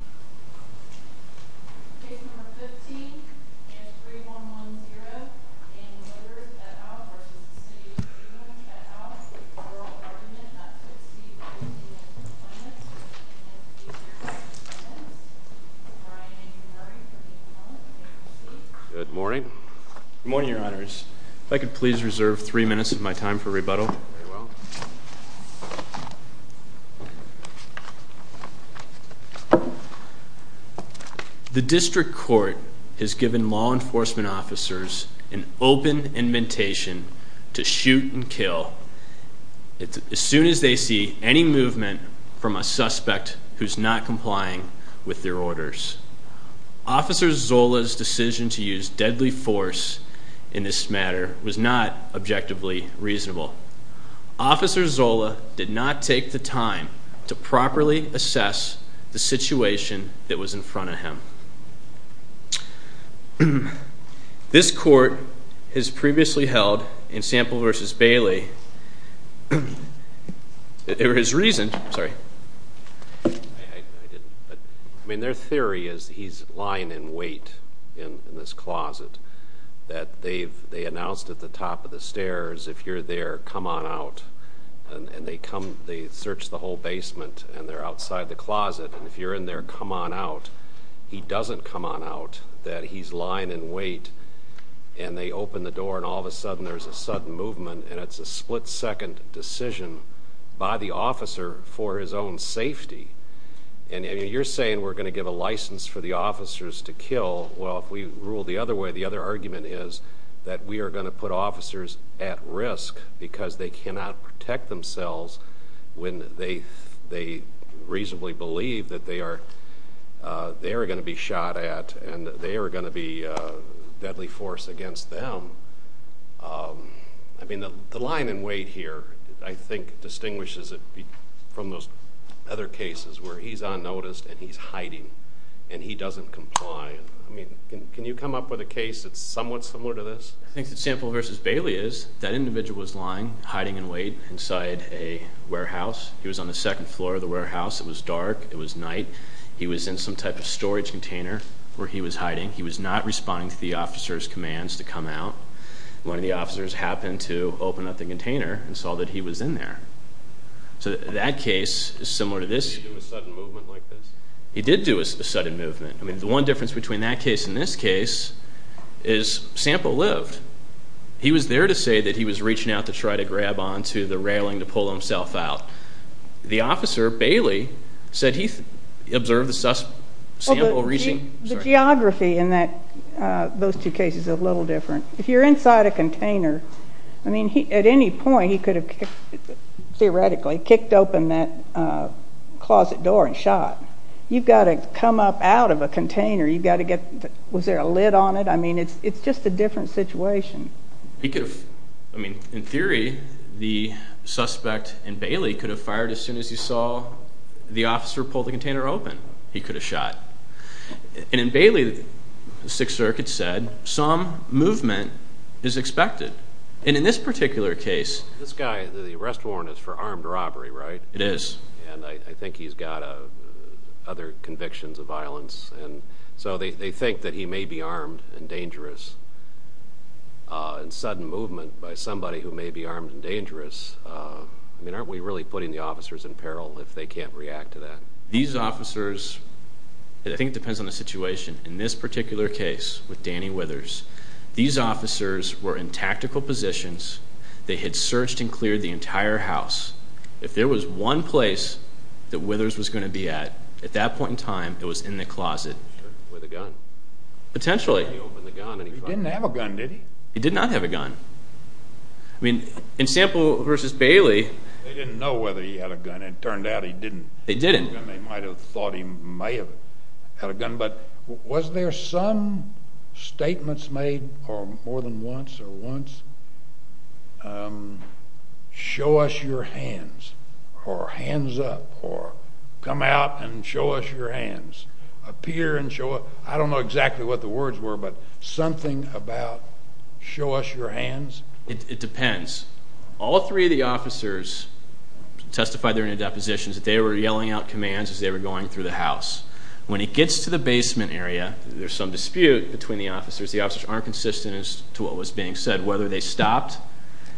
v. Federal Government not to exceed 15 minutes. And if these are your final comments, Brian and Henry from the department may proceed. Good morning. Good morning, Your Honors. If I could please reserve three minutes of my time for rebuttal. The district court has given law enforcement officers an open invitation to shoot and kill as soon as they see any movement from a suspect who's not complying with their orders. Officer Zola's decision to use deadly force in this matter was not objectively reasonable. Officer Zola did not take the time to properly assess the situation that was in front of him. This court has previously held in Sample v. Bailey, their theory is he's lying in wait in this closet, that they announced at the top of the stairs, if you're there, come on out. And they come, they search the whole basement, and they're outside the closet, and if you're in there, come on out. He doesn't come on out, that he's lying in wait, and they open the door, and all of a sudden there's a sudden movement, and it's a split-second decision by the officer for his own safety. And you're saying we're going to give a license for the officers to kill. Well, if we rule the other way, the other argument is that we are going to put officers at risk because they cannot protect themselves when they reasonably believe that they are going to be shot at, and they are going to be deadly force against them. I mean, the lying in wait here, I think, distinguishes it from those other cases where he's unnoticed and he's hiding, and he doesn't comply. I mean, can you come up with a case that's somewhat similar to this? I think that Sample versus Bailey is that individual was lying, hiding in wait inside a warehouse. He was on the second floor of the warehouse. It was dark. It was night. He was in some type of storage container where he was hiding. He was not responding to the officer's commands to come out. One of the officers happened to open up the container and saw that he was in there. So that case is similar to this. Did he do a sudden movement like this? He did do a sudden movement. I mean, the one difference between that case and this case is Sample lived. He was there to say that he was reaching out to try to grab onto the railing to pull himself out. The officer, Bailey, said he observed the suspect Sample reaching. The geography in those two cases is a little different. If you're inside a container, I mean, at any point he could have, theoretically, kicked open that closet door and shot. You've got to come up out of a container. You've got to get, was there a lid on it? I mean, it's just a different situation. He could have, I mean, in theory, the suspect in Bailey could have fired as soon as he saw the officer pull the container open. He could have shot. And in Bailey, the Sixth Circuit said some movement is expected. And in this particular case... The arrest warrant is for armed robbery, right? It is. And I think he's got other convictions of violence. And so they think that he may be armed and dangerous in sudden movement by somebody who may be armed and dangerous. I mean, aren't we really putting the officers in peril if they can't react to that? These officers, and I think it depends on the situation, in this particular case with Danny Withers, these officers were in tactical positions. They had searched and cleared the entire house. If there was one place that Withers was going to be at, at that point in time, it was in the closet with a gun. Potentially. He didn't have a gun, did he? He did not have a gun. I mean, in Sample v. Bailey... They didn't know whether he had a gun. It turned out he didn't. They didn't. They might have thought he may have had a gun, but was there some statements made, or more than once, or once, show us your hands, or hands up, or come out and show us your hands, appear and show us... I don't know exactly what the words were, but something about show us your hands? It depends. All three of the officers testified they were in a position that they were yelling out commands as they were going through the house. When he gets to the basement area, there's some dispute between the officers. The officers aren't consistent as to what was being said, whether they stopped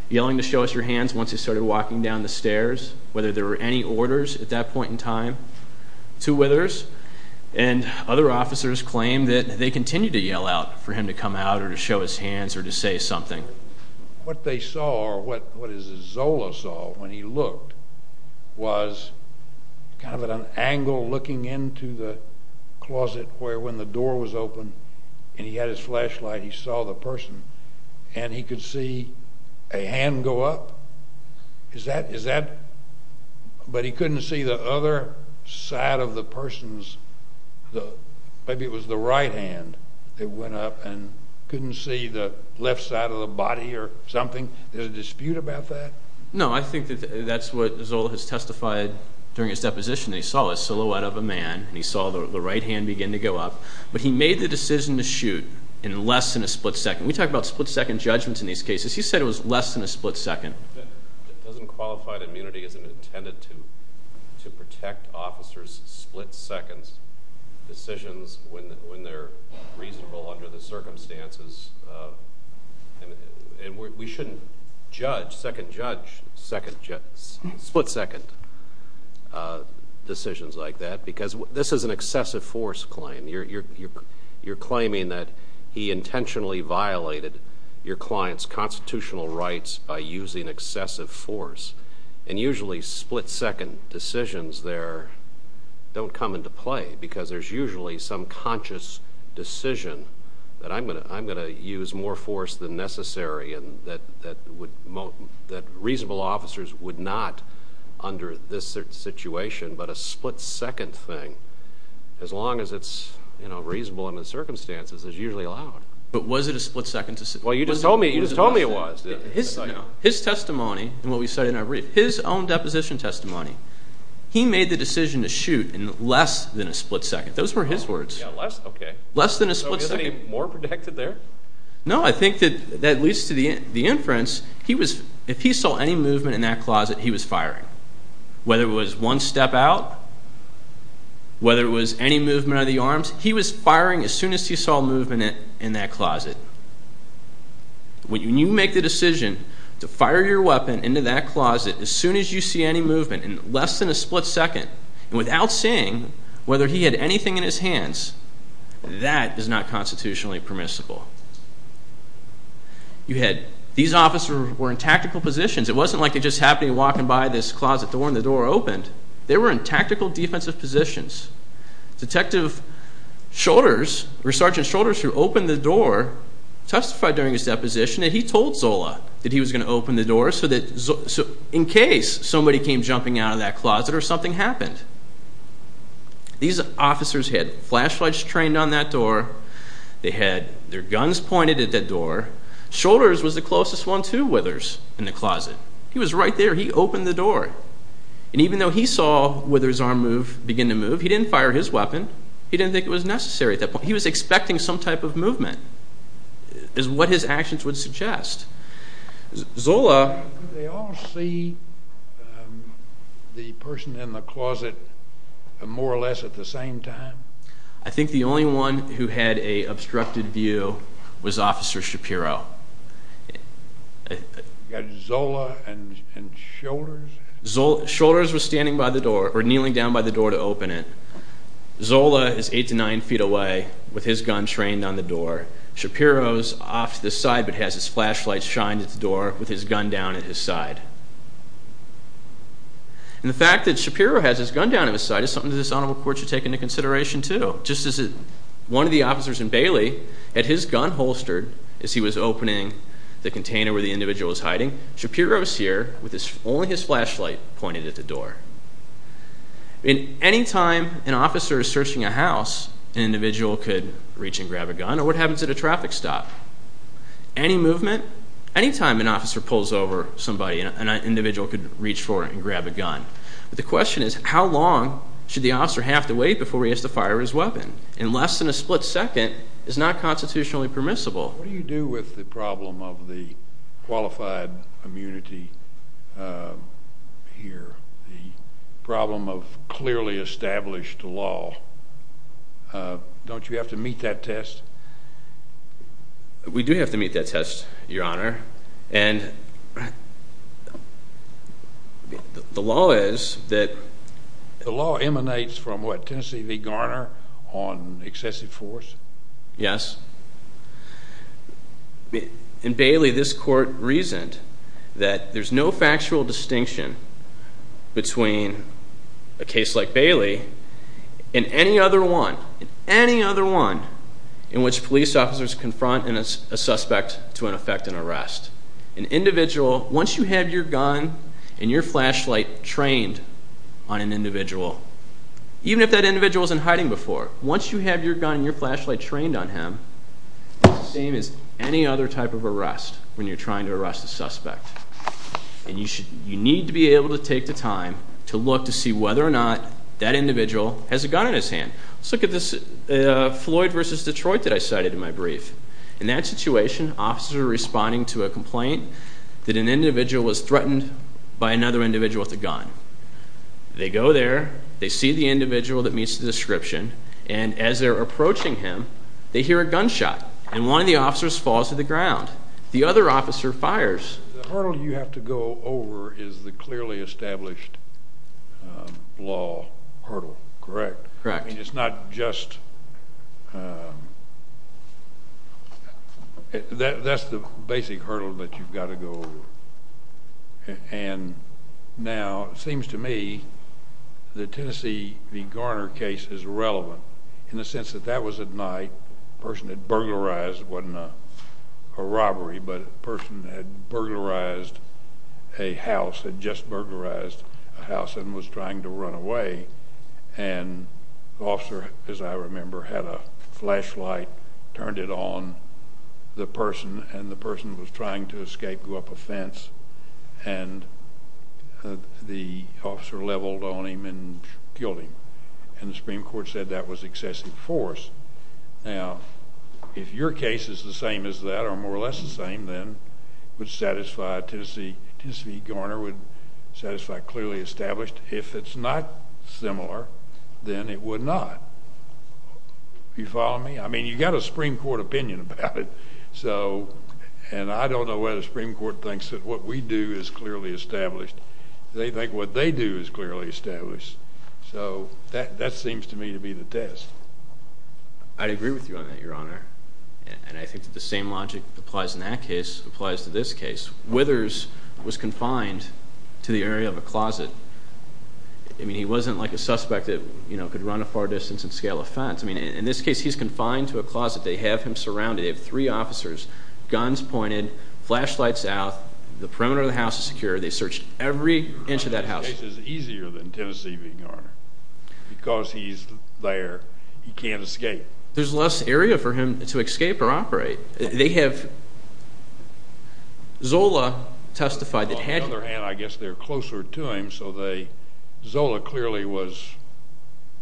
yelling to show us your hands once he started walking down the stairs, whether there were any orders at that point in time to Withers. And other officers claimed that they continued to yell out for him to come out or to show his hands or to say something. What they saw, or what Zola saw when he looked, was kind of an angle looking into the closet where when the door was open and he had his flashlight, he saw the person, and he could see a hand go up. But he couldn't see the other side of the person's...maybe it was the right hand that went up and couldn't see the left side of the body or something? There's a dispute about that? No, I think that's what Zola has testified during his deposition. He saw a silhouette of a man, and he saw the right hand begin to go up, but he made the decision to shoot in less than a split second. We talk about split second judgments in these cases. He said it was less than a split second. It doesn't qualify that immunity isn't intended to protect officers' split second decisions when they're reasonable under the circumstances. And we shouldn't judge, second judge, split second decisions like that because this is an excessive force claim. You're claiming that he intentionally violated your client's constitutional rights by using excessive force. And usually split second decisions there don't come into play because there's usually some conscious decision that I'm going to use more force than necessary and that reasonable officers would not, under this situation, but a split second thing, as long as it's reasonable under the circumstances, is usually allowed. But was it a split second decision? Well, you just told me it was. His testimony, and what we said in our brief, his own deposition testimony, he made the decision to shoot in less than a split second. Those were his words. Less? Okay. Less than a split second. So is he more protected there? No, I think that that leads to the inference, if he saw any movement in that closet, he was firing. Whether it was one step out, whether it was any movement of the arms, he was firing as soon as he saw movement in that closet. When you make the decision to fire your weapon into that closet as soon as you see any movement in less than a split second, and without seeing whether he had anything in his hands, that is not constitutionally permissible. You had, these officers were in tactical positions. It wasn't like they just happened to be walking by this closet door and the door opened. They were in tactical defensive positions. Detective Shoulders, Sergeant Shoulders, who opened the door, testified during his deposition that he told Zola that he was going to open the door in case somebody came jumping out of that closet or something happened. These officers had flashlights trained on that door. They had their guns pointed at that door. Shoulders was the closest one to Withers in the closet. He was right there. He opened the door. And even though he saw Withers' arm begin to move, he didn't fire his weapon. He didn't think it was necessary at that point. He was expecting some type of movement is what his actions would suggest. Zola. Did they all see the person in the closet more or less at the same time? I think the only one who had an obstructed view was Officer Shapiro. You got Zola and Shoulders? Shoulders was standing by the door or kneeling down by the door to open it. Zola is 8 to 9 feet away with his gun trained on the door. Shapiro is off to the side but has his flashlight shined at the door with his gun down at his side. And the fact that Shapiro has his gun down at his side is something that this honorable court should take into consideration too. Just as one of the officers in Bailey had his gun holstered as he was opening the container where the individual was hiding, Shapiro is here with only his flashlight pointed at the door. Any time an officer is searching a house, an individual could reach and grab a gun. Or what happens at a traffic stop? Any movement, any time an officer pulls over somebody, an individual could reach for and grab a gun. But the question is how long should the officer have to wait before he has to fire his weapon? And less than a split second is not constitutionally permissible. What do you do with the problem of the qualified immunity here? The problem of clearly established law. Don't you have to meet that test? We do have to meet that test, Your Honor. And the law is that... The law emanates from what, Tennessee v. Garner on excessive force? Yes. In Bailey, this court reasoned that there's no factual distinction between a case like Bailey and any other one, any other one in which police officers confront a suspect to an effect and arrest. An individual, once you have your gun and your flashlight trained on an individual, even if that individual isn't hiding before, once you have your gun and your flashlight trained on him, it's the same as any other type of arrest when you're trying to arrest a suspect. And you need to be able to take the time to look to see whether or not that individual has a gun in his hand. Let's look at this Floyd v. Detroit that I cited in my brief. In that situation, officers are responding to a complaint that an individual was threatened by another individual with a gun. They go there, they see the individual that meets the description, and as they're approaching him, they hear a gunshot, and one of the officers falls to the ground. The other officer fires. The hurdle you have to go over is the clearly established law hurdle, correct? Correct. I mean, it's not just... That's the basic hurdle that you've got to go over. And now it seems to me the Tennessee v. Garner case is relevant in the sense that that was at night. The person had burglarized. It wasn't a robbery, but the person had burglarized a house, had just burglarized a house and was trying to run away. And the officer, as I remember, had a flashlight, turned it on the person, and the person was trying to escape, go up a fence, and the officer leveled on him and killed him. And the Supreme Court said that was excessive force. Now, if your case is the same as that or more or less the same, then it would satisfy Tennessee v. Garner, would satisfy clearly established. If it's not similar, then it would not. Are you following me? I mean, you've got a Supreme Court opinion about it. And I don't know whether the Supreme Court thinks that what we do is clearly established. They think what they do is clearly established. So that seems to me to be the test. I'd agree with you on that, Your Honor. And I think that the same logic applies in that case, applies to this case. Withers was confined to the area of a closet. I mean, he wasn't like a suspect that could run a far distance and scale a fence. I mean, in this case, he's confined to a closet. They have him surrounded. They have three officers, guns pointed, flashlights out. The perimeter of the house is secure. They searched every inch of that house. This case is easier than Tennessee v. Garner because he's there. He can't escape. There's less area for him to escape or operate. They have Zola testified that he had to. On the other hand, I guess they're closer to him, so Zola clearly was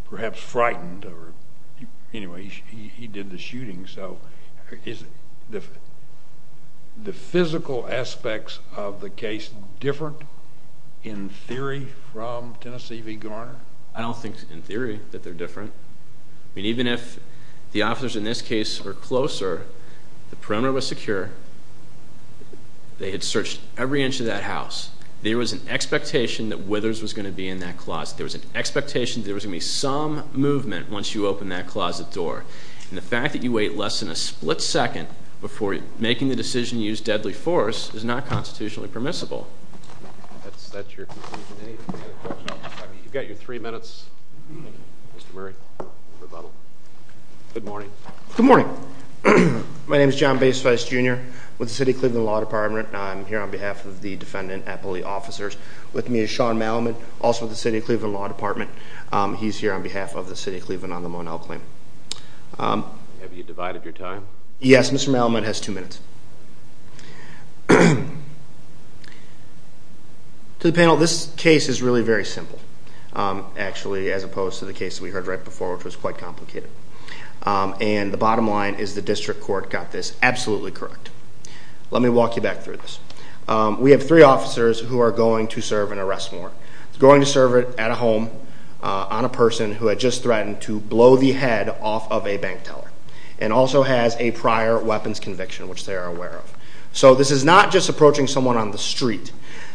perhaps frightened. Anyway, he did the shooting. So is the physical aspects of the case different in theory from Tennessee v. Garner? I don't think in theory that they're different. I mean, even if the officers in this case were closer, the perimeter was secure. They had searched every inch of that house. There was an expectation that Withers was going to be in that closet. There was an expectation there was going to be some movement once you open that closet door. And the fact that you wait less than a split second before making the decision to use deadly force is not constitutionally permissible. That's your conclusion. Any other questions? You've got your three minutes, Mr. Murray, for rebuttal. Good morning. Good morning. My name is John Baceweis, Jr. with the City of Cleveland Law Department, and I'm here on behalf of the defendant and police officers. With me is Sean Malamud, also with the City of Cleveland Law Department. He's here on behalf of the City of Cleveland on the Monell claim. Have you divided your time? Yes. Mr. Malamud has two minutes. To the panel, this case is really very simple, actually, as opposed to the case that we heard right before, which was quite complicated. And the bottom line is the district court got this absolutely correct. Let me walk you back through this. We have three officers who are going to serve an arrest warrant. They're going to serve it at a home on a person who had just threatened to blow the head off of a bank teller and also has a prior weapons conviction, which they are aware of. So this is not just approaching someone on the street.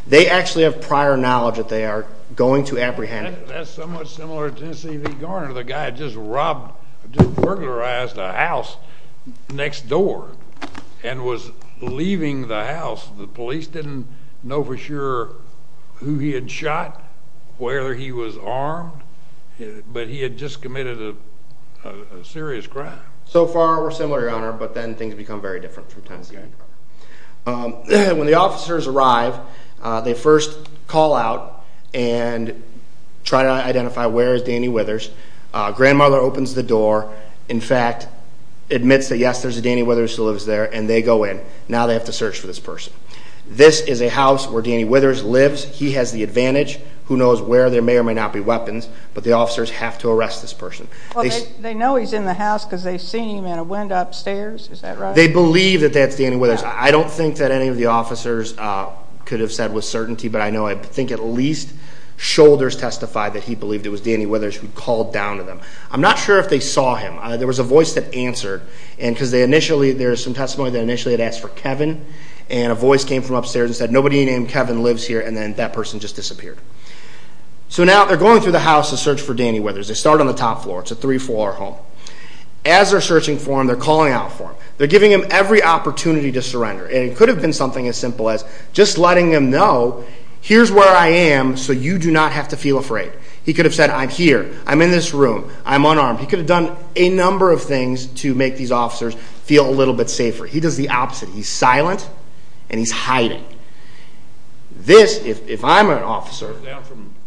They actually have prior knowledge that they are going to apprehend. That's somewhat similar to Tennessee v. Garner, the guy had just robbed, just burglarized a house next door and was leaving the house. The police didn't know for sure who he had shot, where he was armed, but he had just committed a serious crime. So far, we're similar, Your Honor, but then things become very different from Tennessee v. Garner. When the officers arrive, they first call out and try to identify where is Danny Withers. Grandmother opens the door, in fact, admits that, yes, there's a Danny Withers who lives there, and they go in. Now they have to search for this person. This is a house where Danny Withers lives. He has the advantage. Who knows where there may or may not be weapons, but the officers have to arrest this person. They know he's in the house because they've seen him in a window upstairs, is that right? They believe that that's Danny Withers. I don't think that any of the officers could have said with certainty, but I know I think at least Shoulders testified that he believed it was Danny Withers who called down to them. I'm not sure if they saw him. There was a voice that answered because there's some testimony that initially it asked for Kevin, and a voice came from upstairs and said, nobody named Kevin lives here, and then that person just disappeared. So now they're going through the house to search for Danny Withers. They start on the top floor. It's a three-floor home. As they're searching for him, they're calling out for him. They're giving him every opportunity to surrender, and it could have been something as simple as just letting him know, here's where I am, so you do not have to feel afraid. He could have said, I'm here. I'm in this room. I'm unarmed. He could have done a number of things to make these officers feel a little bit safer. He does the opposite. He's silent and he's hiding. This, if I'm an officer.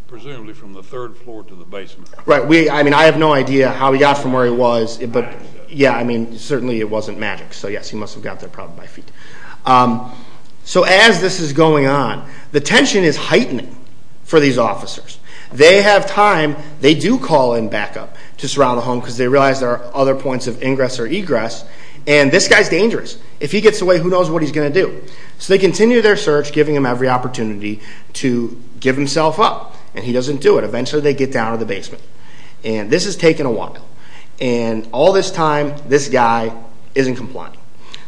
Presumably from the third floor to the basement. Right. I mean, I have no idea how he got from where he was. Yeah, I mean, certainly it wasn't magic. So, yes, he must have got there probably by feet. So as this is going on, the tension is heightening for these officers. They have time. They do call in backup to surround the home because they realize there are other points of ingress or egress, and this guy's dangerous. If he gets away, who knows what he's going to do. So they continue their search, giving him every opportunity to give himself up, and he doesn't do it. Eventually they get down to the basement, and this has taken a while. And all this time, this guy isn't complying.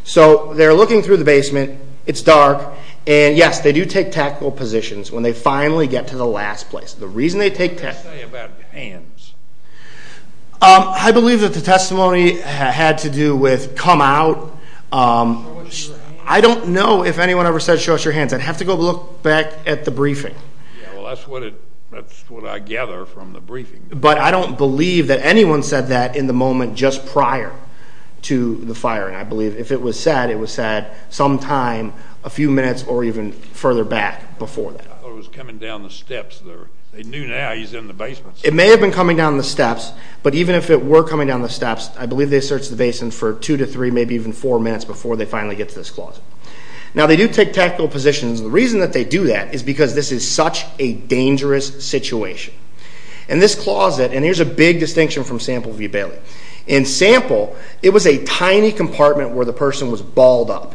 So they're looking through the basement. It's dark. And, yes, they do take tactical positions when they finally get to the last place. The reason they take tactical positions. What do you say about hands? I believe that the testimony had to do with come out. I don't know if anyone ever said, show us your hands. I'd have to go look back at the briefing. Well, that's what I gather from the briefing. But I don't believe that anyone said that in the moment just prior to the firing. I believe if it was said, it was said sometime a few minutes or even further back before that. I thought it was coming down the steps. They knew now he's in the basement. It may have been coming down the steps, but even if it were coming down the steps, I believe they searched the basement for two to three, maybe even four minutes before they finally get to this closet. Now, they do take tactical positions. The reason that they do that is because this is such a dangerous situation. And this closet, and here's a big distinction from Sample v. Bailey. In Sample, it was a tiny compartment where the person was balled up.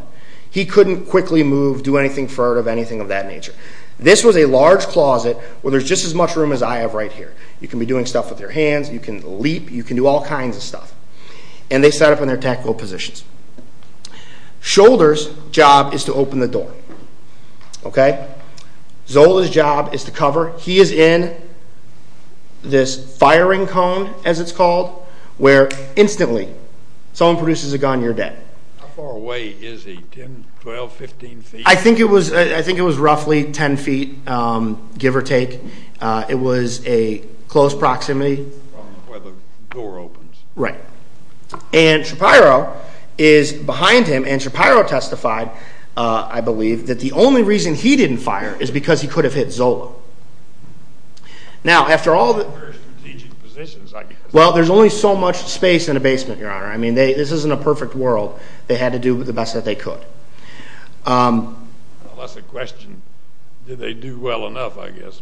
He couldn't quickly move, do anything furtive, anything of that nature. This was a large closet where there's just as much room as I have right here. You can be doing stuff with your hands. You can leap. You can do all kinds of stuff. And they set up in their tactical positions. Shoulder's job is to open the door. Okay? Zola's job is to cover. He is in this firing cone, as it's called, where instantly someone produces a gun, you're dead. How far away is he, 10, 12, 15 feet? I think it was roughly 10 feet, give or take. It was a close proximity. From where the door opens. Right. And Shapiro is behind him, and Shapiro testified, I believe, that the only reason he didn't fire is because he could have hit Zola. Very strategic positions, I guess. Well, there's only so much space in a basement, Your Honor. I mean, this isn't a perfect world. They had to do the best that they could. Well, that's the question. Did they do well enough, I guess?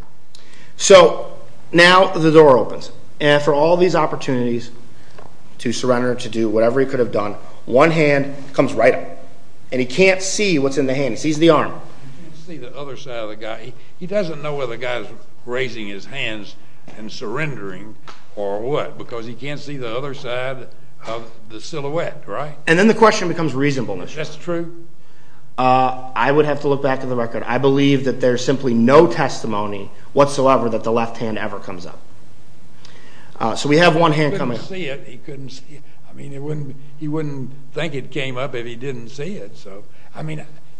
So now the door opens. And for all these opportunities to surrender, to do whatever he could have done, one hand comes right up, and he can't see what's in the hand. He sees the arm. He can't see the other side of the guy. He doesn't know whether the guy is raising his hands and surrendering or what, because he can't see the other side of the silhouette, right? And then the question becomes reasonableness. Is this true? I would have to look back at the record. I believe that there's simply no testimony whatsoever that the left hand ever comes up. So we have one hand coming up. He couldn't see it. I mean, he wouldn't think it came up if he didn't see it.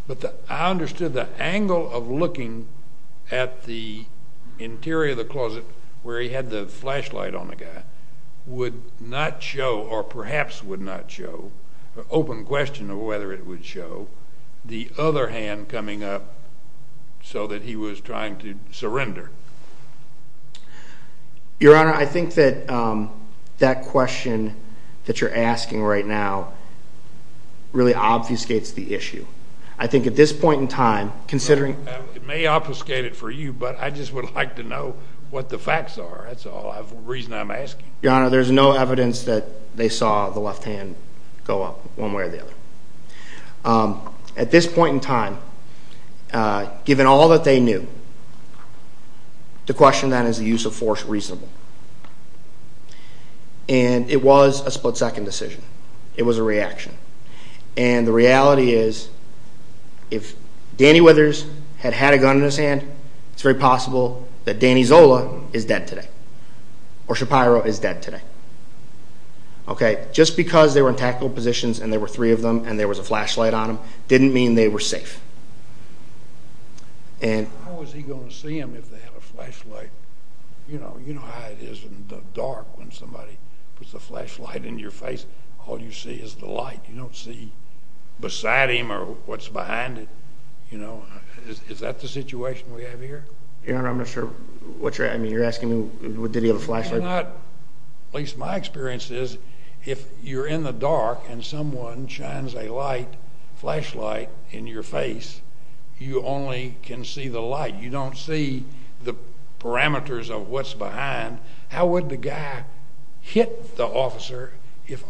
But I understood the angle of looking at the interior of the closet where he had the flashlight on the guy would not show, or perhaps would not show, an open question of whether it would show, the other hand coming up so that he was trying to surrender. Your Honor, I think that that question that you're asking right now really obfuscates the issue. I think at this point in time, considering— It may obfuscate it for you, but I just would like to know what the facts are. That's the reason I'm asking. Your Honor, there's no evidence that they saw the left hand go up one way or the other. At this point in time, given all that they knew, the question then is, is the use of force reasonable? And it was a split-second decision. It was a reaction. And the reality is, if Danny Withers had had a gun in his hand, it's very possible that Danny Zola is dead today, or Shapiro is dead today. Just because they were in tactical positions and there were three of them and there was a flashlight on them didn't mean they were safe. How was he going to see them if they had a flashlight? You know how it is in the dark when somebody puts a flashlight in your face. All you see is the light. You don't see beside him or what's behind it. Is that the situation we have here? Your Honor, I'm not sure what you're—I mean, you're asking me, did he have a flashlight? At least my experience is, if you're in the dark and someone shines a flashlight in your face, you only can see the light. You don't see the parameters of what's behind. How would the guy hit the officer if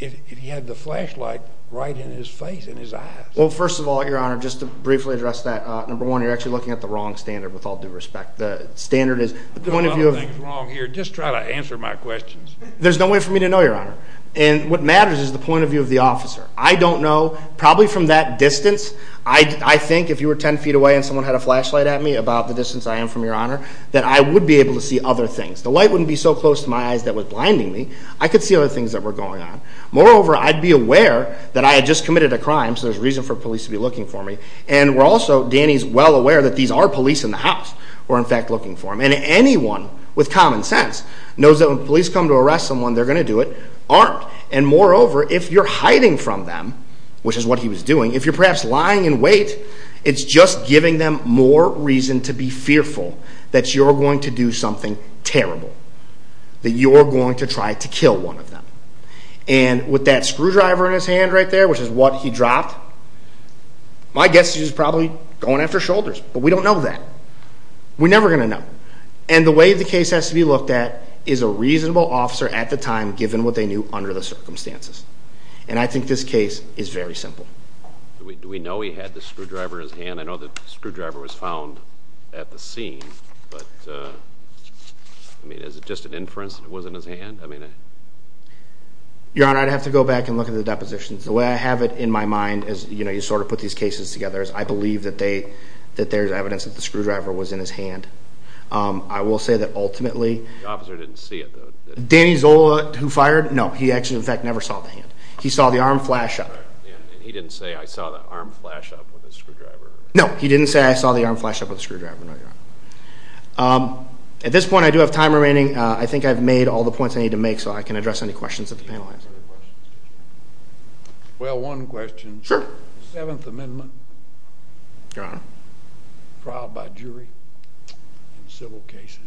he had the flashlight right in his face, in his eyes? Well, first of all, Your Honor, just to briefly address that, number one, you're actually looking at the wrong standard with all due respect. The standard is— I'm doing a lot of things wrong here. Just try to answer my questions. There's no way for me to know, Your Honor. And what matters is the point of view of the officer. I don't know. Probably from that distance, I think if you were 10 feet away and someone had a flashlight at me about the distance I am from, Your Honor, that I would be able to see other things. The light wouldn't be so close to my eyes that was blinding me. I could see other things that were going on. Moreover, I'd be aware that I had just committed a crime, so there's reason for police to be looking for me. And we're also—Danny's well aware that these are police in the house who are in fact looking for him. And anyone with common sense knows that when police come to arrest someone, they're going to do it armed. And moreover, if you're hiding from them, which is what he was doing, if you're perhaps lying in wait, it's just giving them more reason to be fearful that you're going to do something terrible, that you're going to try to kill one of them. And with that screwdriver in his hand right there, which is what he dropped, my guess is he's probably going after shoulders, but we don't know that. We're never going to know. And the way the case has to be looked at is a reasonable officer at the time, given what they knew under the circumstances. And I think this case is very simple. Do we know he had the screwdriver in his hand? I know the screwdriver was found at the scene, but, I mean, is it just an inference that it was in his hand? Your Honor, I'd have to go back and look at the depositions. The way I have it in my mind, as you sort of put these cases together, I believe that there's evidence that the screwdriver was in his hand. I will say that ultimately. The officer didn't see it, though. Danny Zola, who fired? No, he actually, in fact, never saw the hand. He saw the arm flash up. And he didn't say, I saw the arm flash up with a screwdriver. No, he didn't say I saw the arm flash up with a screwdriver, no, Your Honor. At this point, I do have time remaining. I think I've made all the points I need to make so I can address any questions that the panel has. Well, one question. Sure. The Seventh Amendment. Your Honor. Trial by jury in civil cases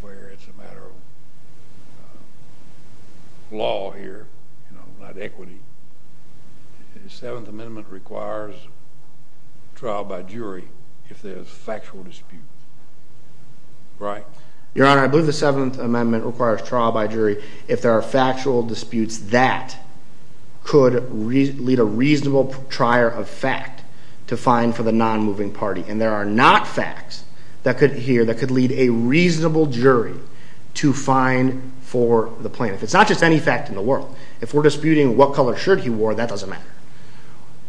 where it's a matter of law here, not equity. The Seventh Amendment requires trial by jury if there's factual disputes. Right. Your Honor, I believe the Seventh Amendment requires trial by jury if there are factual disputes that could lead a reasonable trier of fact to find for the nonmoving party. And there are not facts here that could lead a reasonable jury to find for the plaintiff. It's not just any fact in the world. If we're disputing what color shirt he wore, that doesn't matter.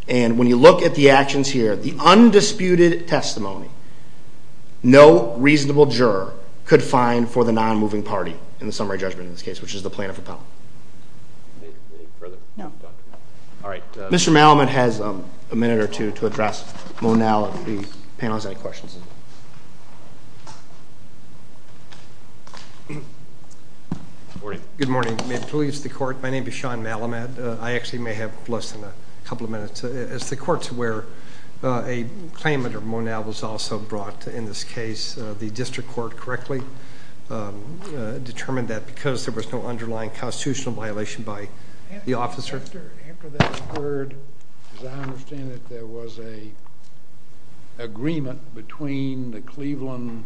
And when you look at the actions here, the undisputed testimony, no reasonable juror could find for the nonmoving party in the summary judgment in this case, which is the plaintiff or penalty. Any further? No. All right. Mr. Malamud has a minute or two to address Monal and the panel has any questions. Good morning. May it please the Court. My name is Sean Malamud. I actually may have less than a couple of minutes. As the Court's aware, a claim under Monal was also brought in this case. The district court correctly determined that because there was no underlying constitutional violation by the officer. After that occurred, as I understand it, there was an agreement between the Cleveland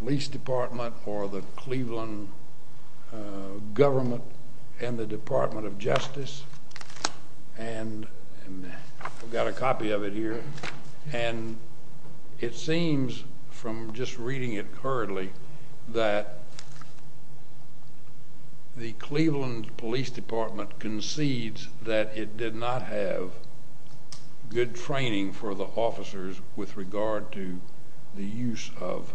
Police Department or the Cleveland Government and the Department of Justice. And I've got a copy of it here. And it seems from just reading it currently that the Cleveland Police Department concedes that it did not have good training for the officers with regard to the use of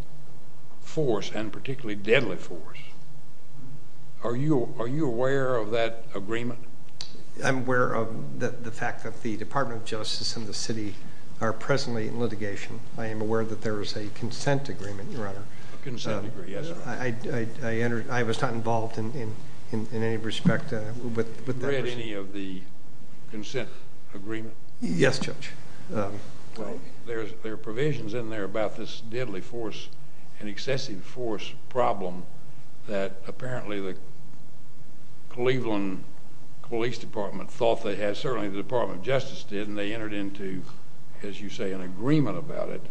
force, and particularly deadly force. Are you aware of that agreement? I'm aware of the fact that the Department of Justice and the city are presently in litigation. I am aware that there is a consent agreement, Your Honor. A consent agreement, yes. I was not involved in any respect. Have you read any of the consent agreement? Yes, Judge. There are provisions in there about this deadly force and excessive force problem that apparently the Cleveland Police Department thought they had. Certainly the Department of Justice did, and they entered into, as you say, an agreement about it.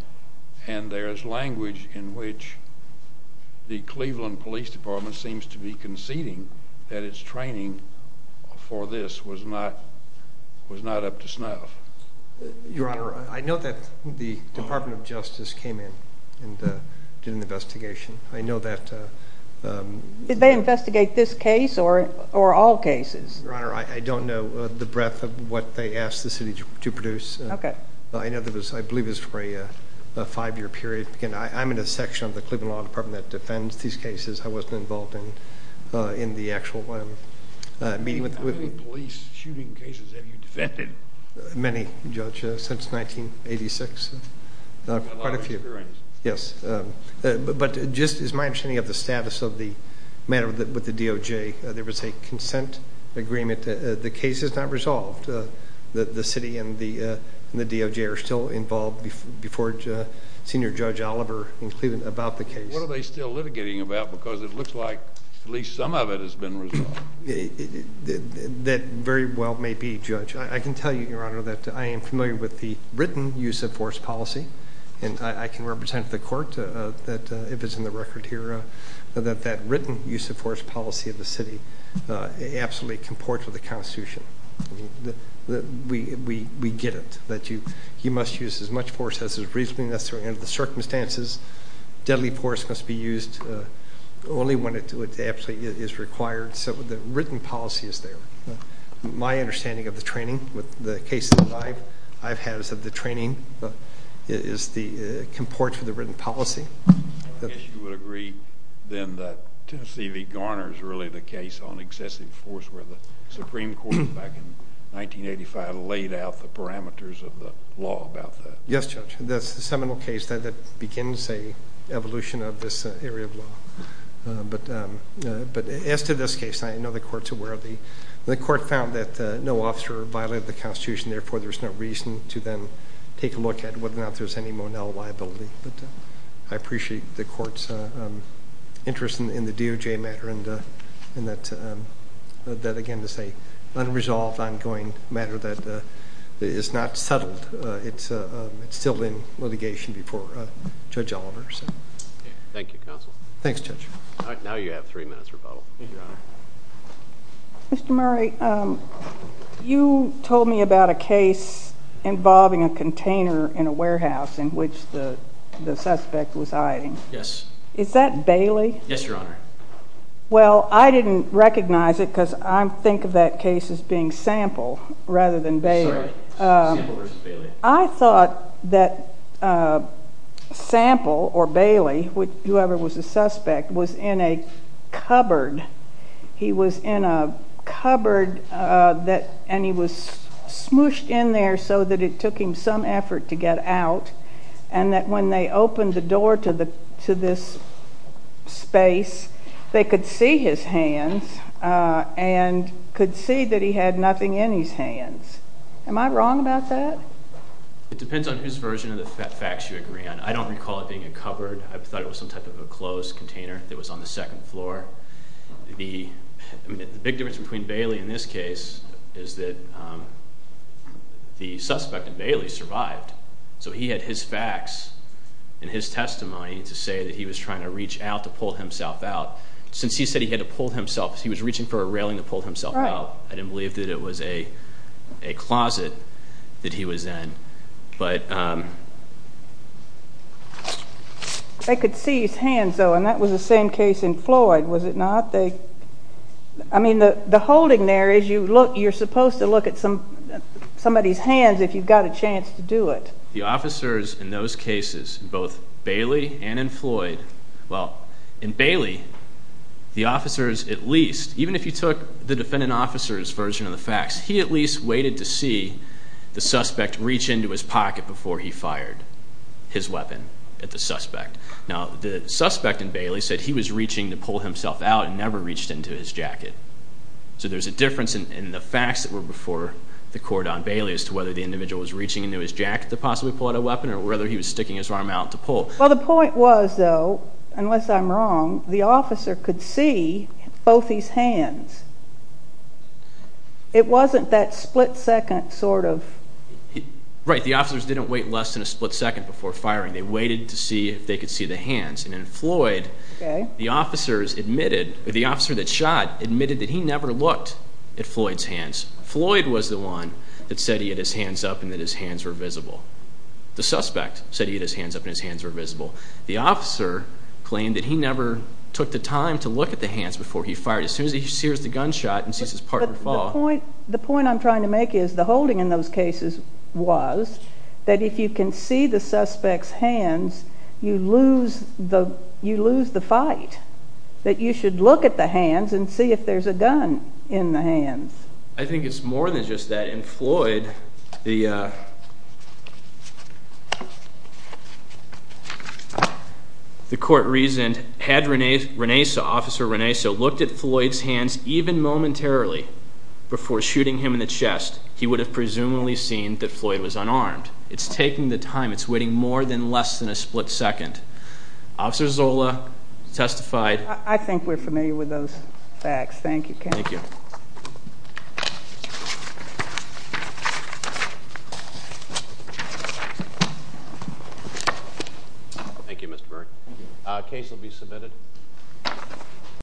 And there is language in which the Cleveland Police Department seems to be conceding that its training for this was not up to snuff. Your Honor, I know that the Department of Justice came in and did an investigation. I know that— Did they investigate this case or all cases? Your Honor, I don't know the breadth of what they asked the city to produce. Okay. In other words, I believe it was for a five-year period. Again, I'm in a section of the Cleveland Law Department that defends these cases. I wasn't involved in the actual meeting with them. How many police shooting cases have you defended? Many, Judge, since 1986. A lot of experience. Yes. But just as my understanding of the status of the matter with the DOJ, there was a consent agreement. The case is not resolved. The city and the DOJ are still involved before Senior Judge Oliver in Cleveland about the case. What are they still litigating about? Because it looks like at least some of it has been resolved. That very well may be, Judge. I can tell you, Your Honor, that I am familiar with the written use-of-force policy, and I can represent to the Court that, if it's in the record here, that that written use-of-force policy of the city absolutely comports with the Constitution. We get it, that you must use as much force as is reasonably necessary under the circumstances. Deadly force must be used only when it absolutely is required. So the written policy is there. My understanding of the training with the cases that I've had is that the training comports with the written policy. I guess you would agree then that Tennessee v. Garner is really the case on excessive force where the Supreme Court back in 1985 laid out the parameters of the law about that. Yes, Judge. That's the seminal case that begins an evolution of this area of law. But as to this case, I know the Court's aware of the... The Court found that no officer violated the Constitution, therefore there's no reason to then take a look at whether or not there's any Monell liability. But I appreciate the Court's interest in the DOJ matter and that, again, this is an unresolved, ongoing matter that is not settled. It's still in litigation before Judge Oliver. Thank you, Counsel. Thanks, Judge. All right, now you have three minutes rebuttal. Thank you, Your Honor. Mr. Murray, you told me about a case involving a container in a warehouse in which the suspect was hiding. Yes. Is that Bailey? Yes, Your Honor. Well, I didn't recognize it because I think of that case as being Sample rather than Bailey. Sorry, Sample versus Bailey. I thought that Sample or Bailey, whoever was the suspect, was in a cupboard. He was in a cupboard and he was smooshed in there so that it took him some effort to get out and that when they opened the door to this space, they could see his hands and could see that he had nothing in his hands. Am I wrong about that? It depends on whose version of the facts you agree on. I don't recall it being a cupboard. I thought it was some type of a closed container that was on the second floor. The big difference between Bailey in this case is that the suspect in Bailey survived, so he had his facts and his testimony to say that he was trying to reach out to pull himself out. Since he said he had to pull himself, he was reaching for a railing to pull himself out. I didn't believe that it was a closet that he was in. They could see his hands, though, and that was the same case in Floyd, was it not? I mean, the holding there is you're supposed to look at somebody's hands if you've got a chance to do it. The officers in those cases, both Bailey and in Floyd, well, in Bailey, the officers at least, even if you took the defendant officer's version of the facts, he at least waited to see the suspect reach into his pocket before he fired his weapon at the suspect. Now, the suspect in Bailey said he was reaching to pull himself out and never reached into his jacket. So there's a difference in the facts that were before the court on Bailey as to whether the individual was reaching into his jacket to possibly pull out a weapon or whether he was sticking his arm out to pull. Well, the point was, though, unless I'm wrong, the officer could see both his hands. It wasn't that split-second sort of... Right. The officers didn't wait less than a split second before firing. They waited to see if they could see the hands. And in Floyd, the officers admitted, the officer that shot admitted that he never looked at Floyd's hands. Floyd was the one that said he had his hands up and that his hands were visible. The suspect said he had his hands up and his hands were visible. The officer claimed that he never took the time to look at the hands before he fired. As soon as he sears the gunshot and sees his partner fall. The point I'm trying to make is the holding in those cases was that if you can see the suspect's hands, you lose the fight, that you should look at the hands and see if there's a gun in the hands. I think it's more than just that. In Floyd, the court reasoned, had Renesa, Officer Renesa, looked at Floyd's hands even momentarily before shooting him in the chest, he would have presumably seen that Floyd was unarmed. It's taking the time. It's waiting more than less than a split second. Officer Zola testified... I think we're familiar with those facts. Thank you, Ken. Thank you. Thank you, Mr. Byrd. Case will be submitted.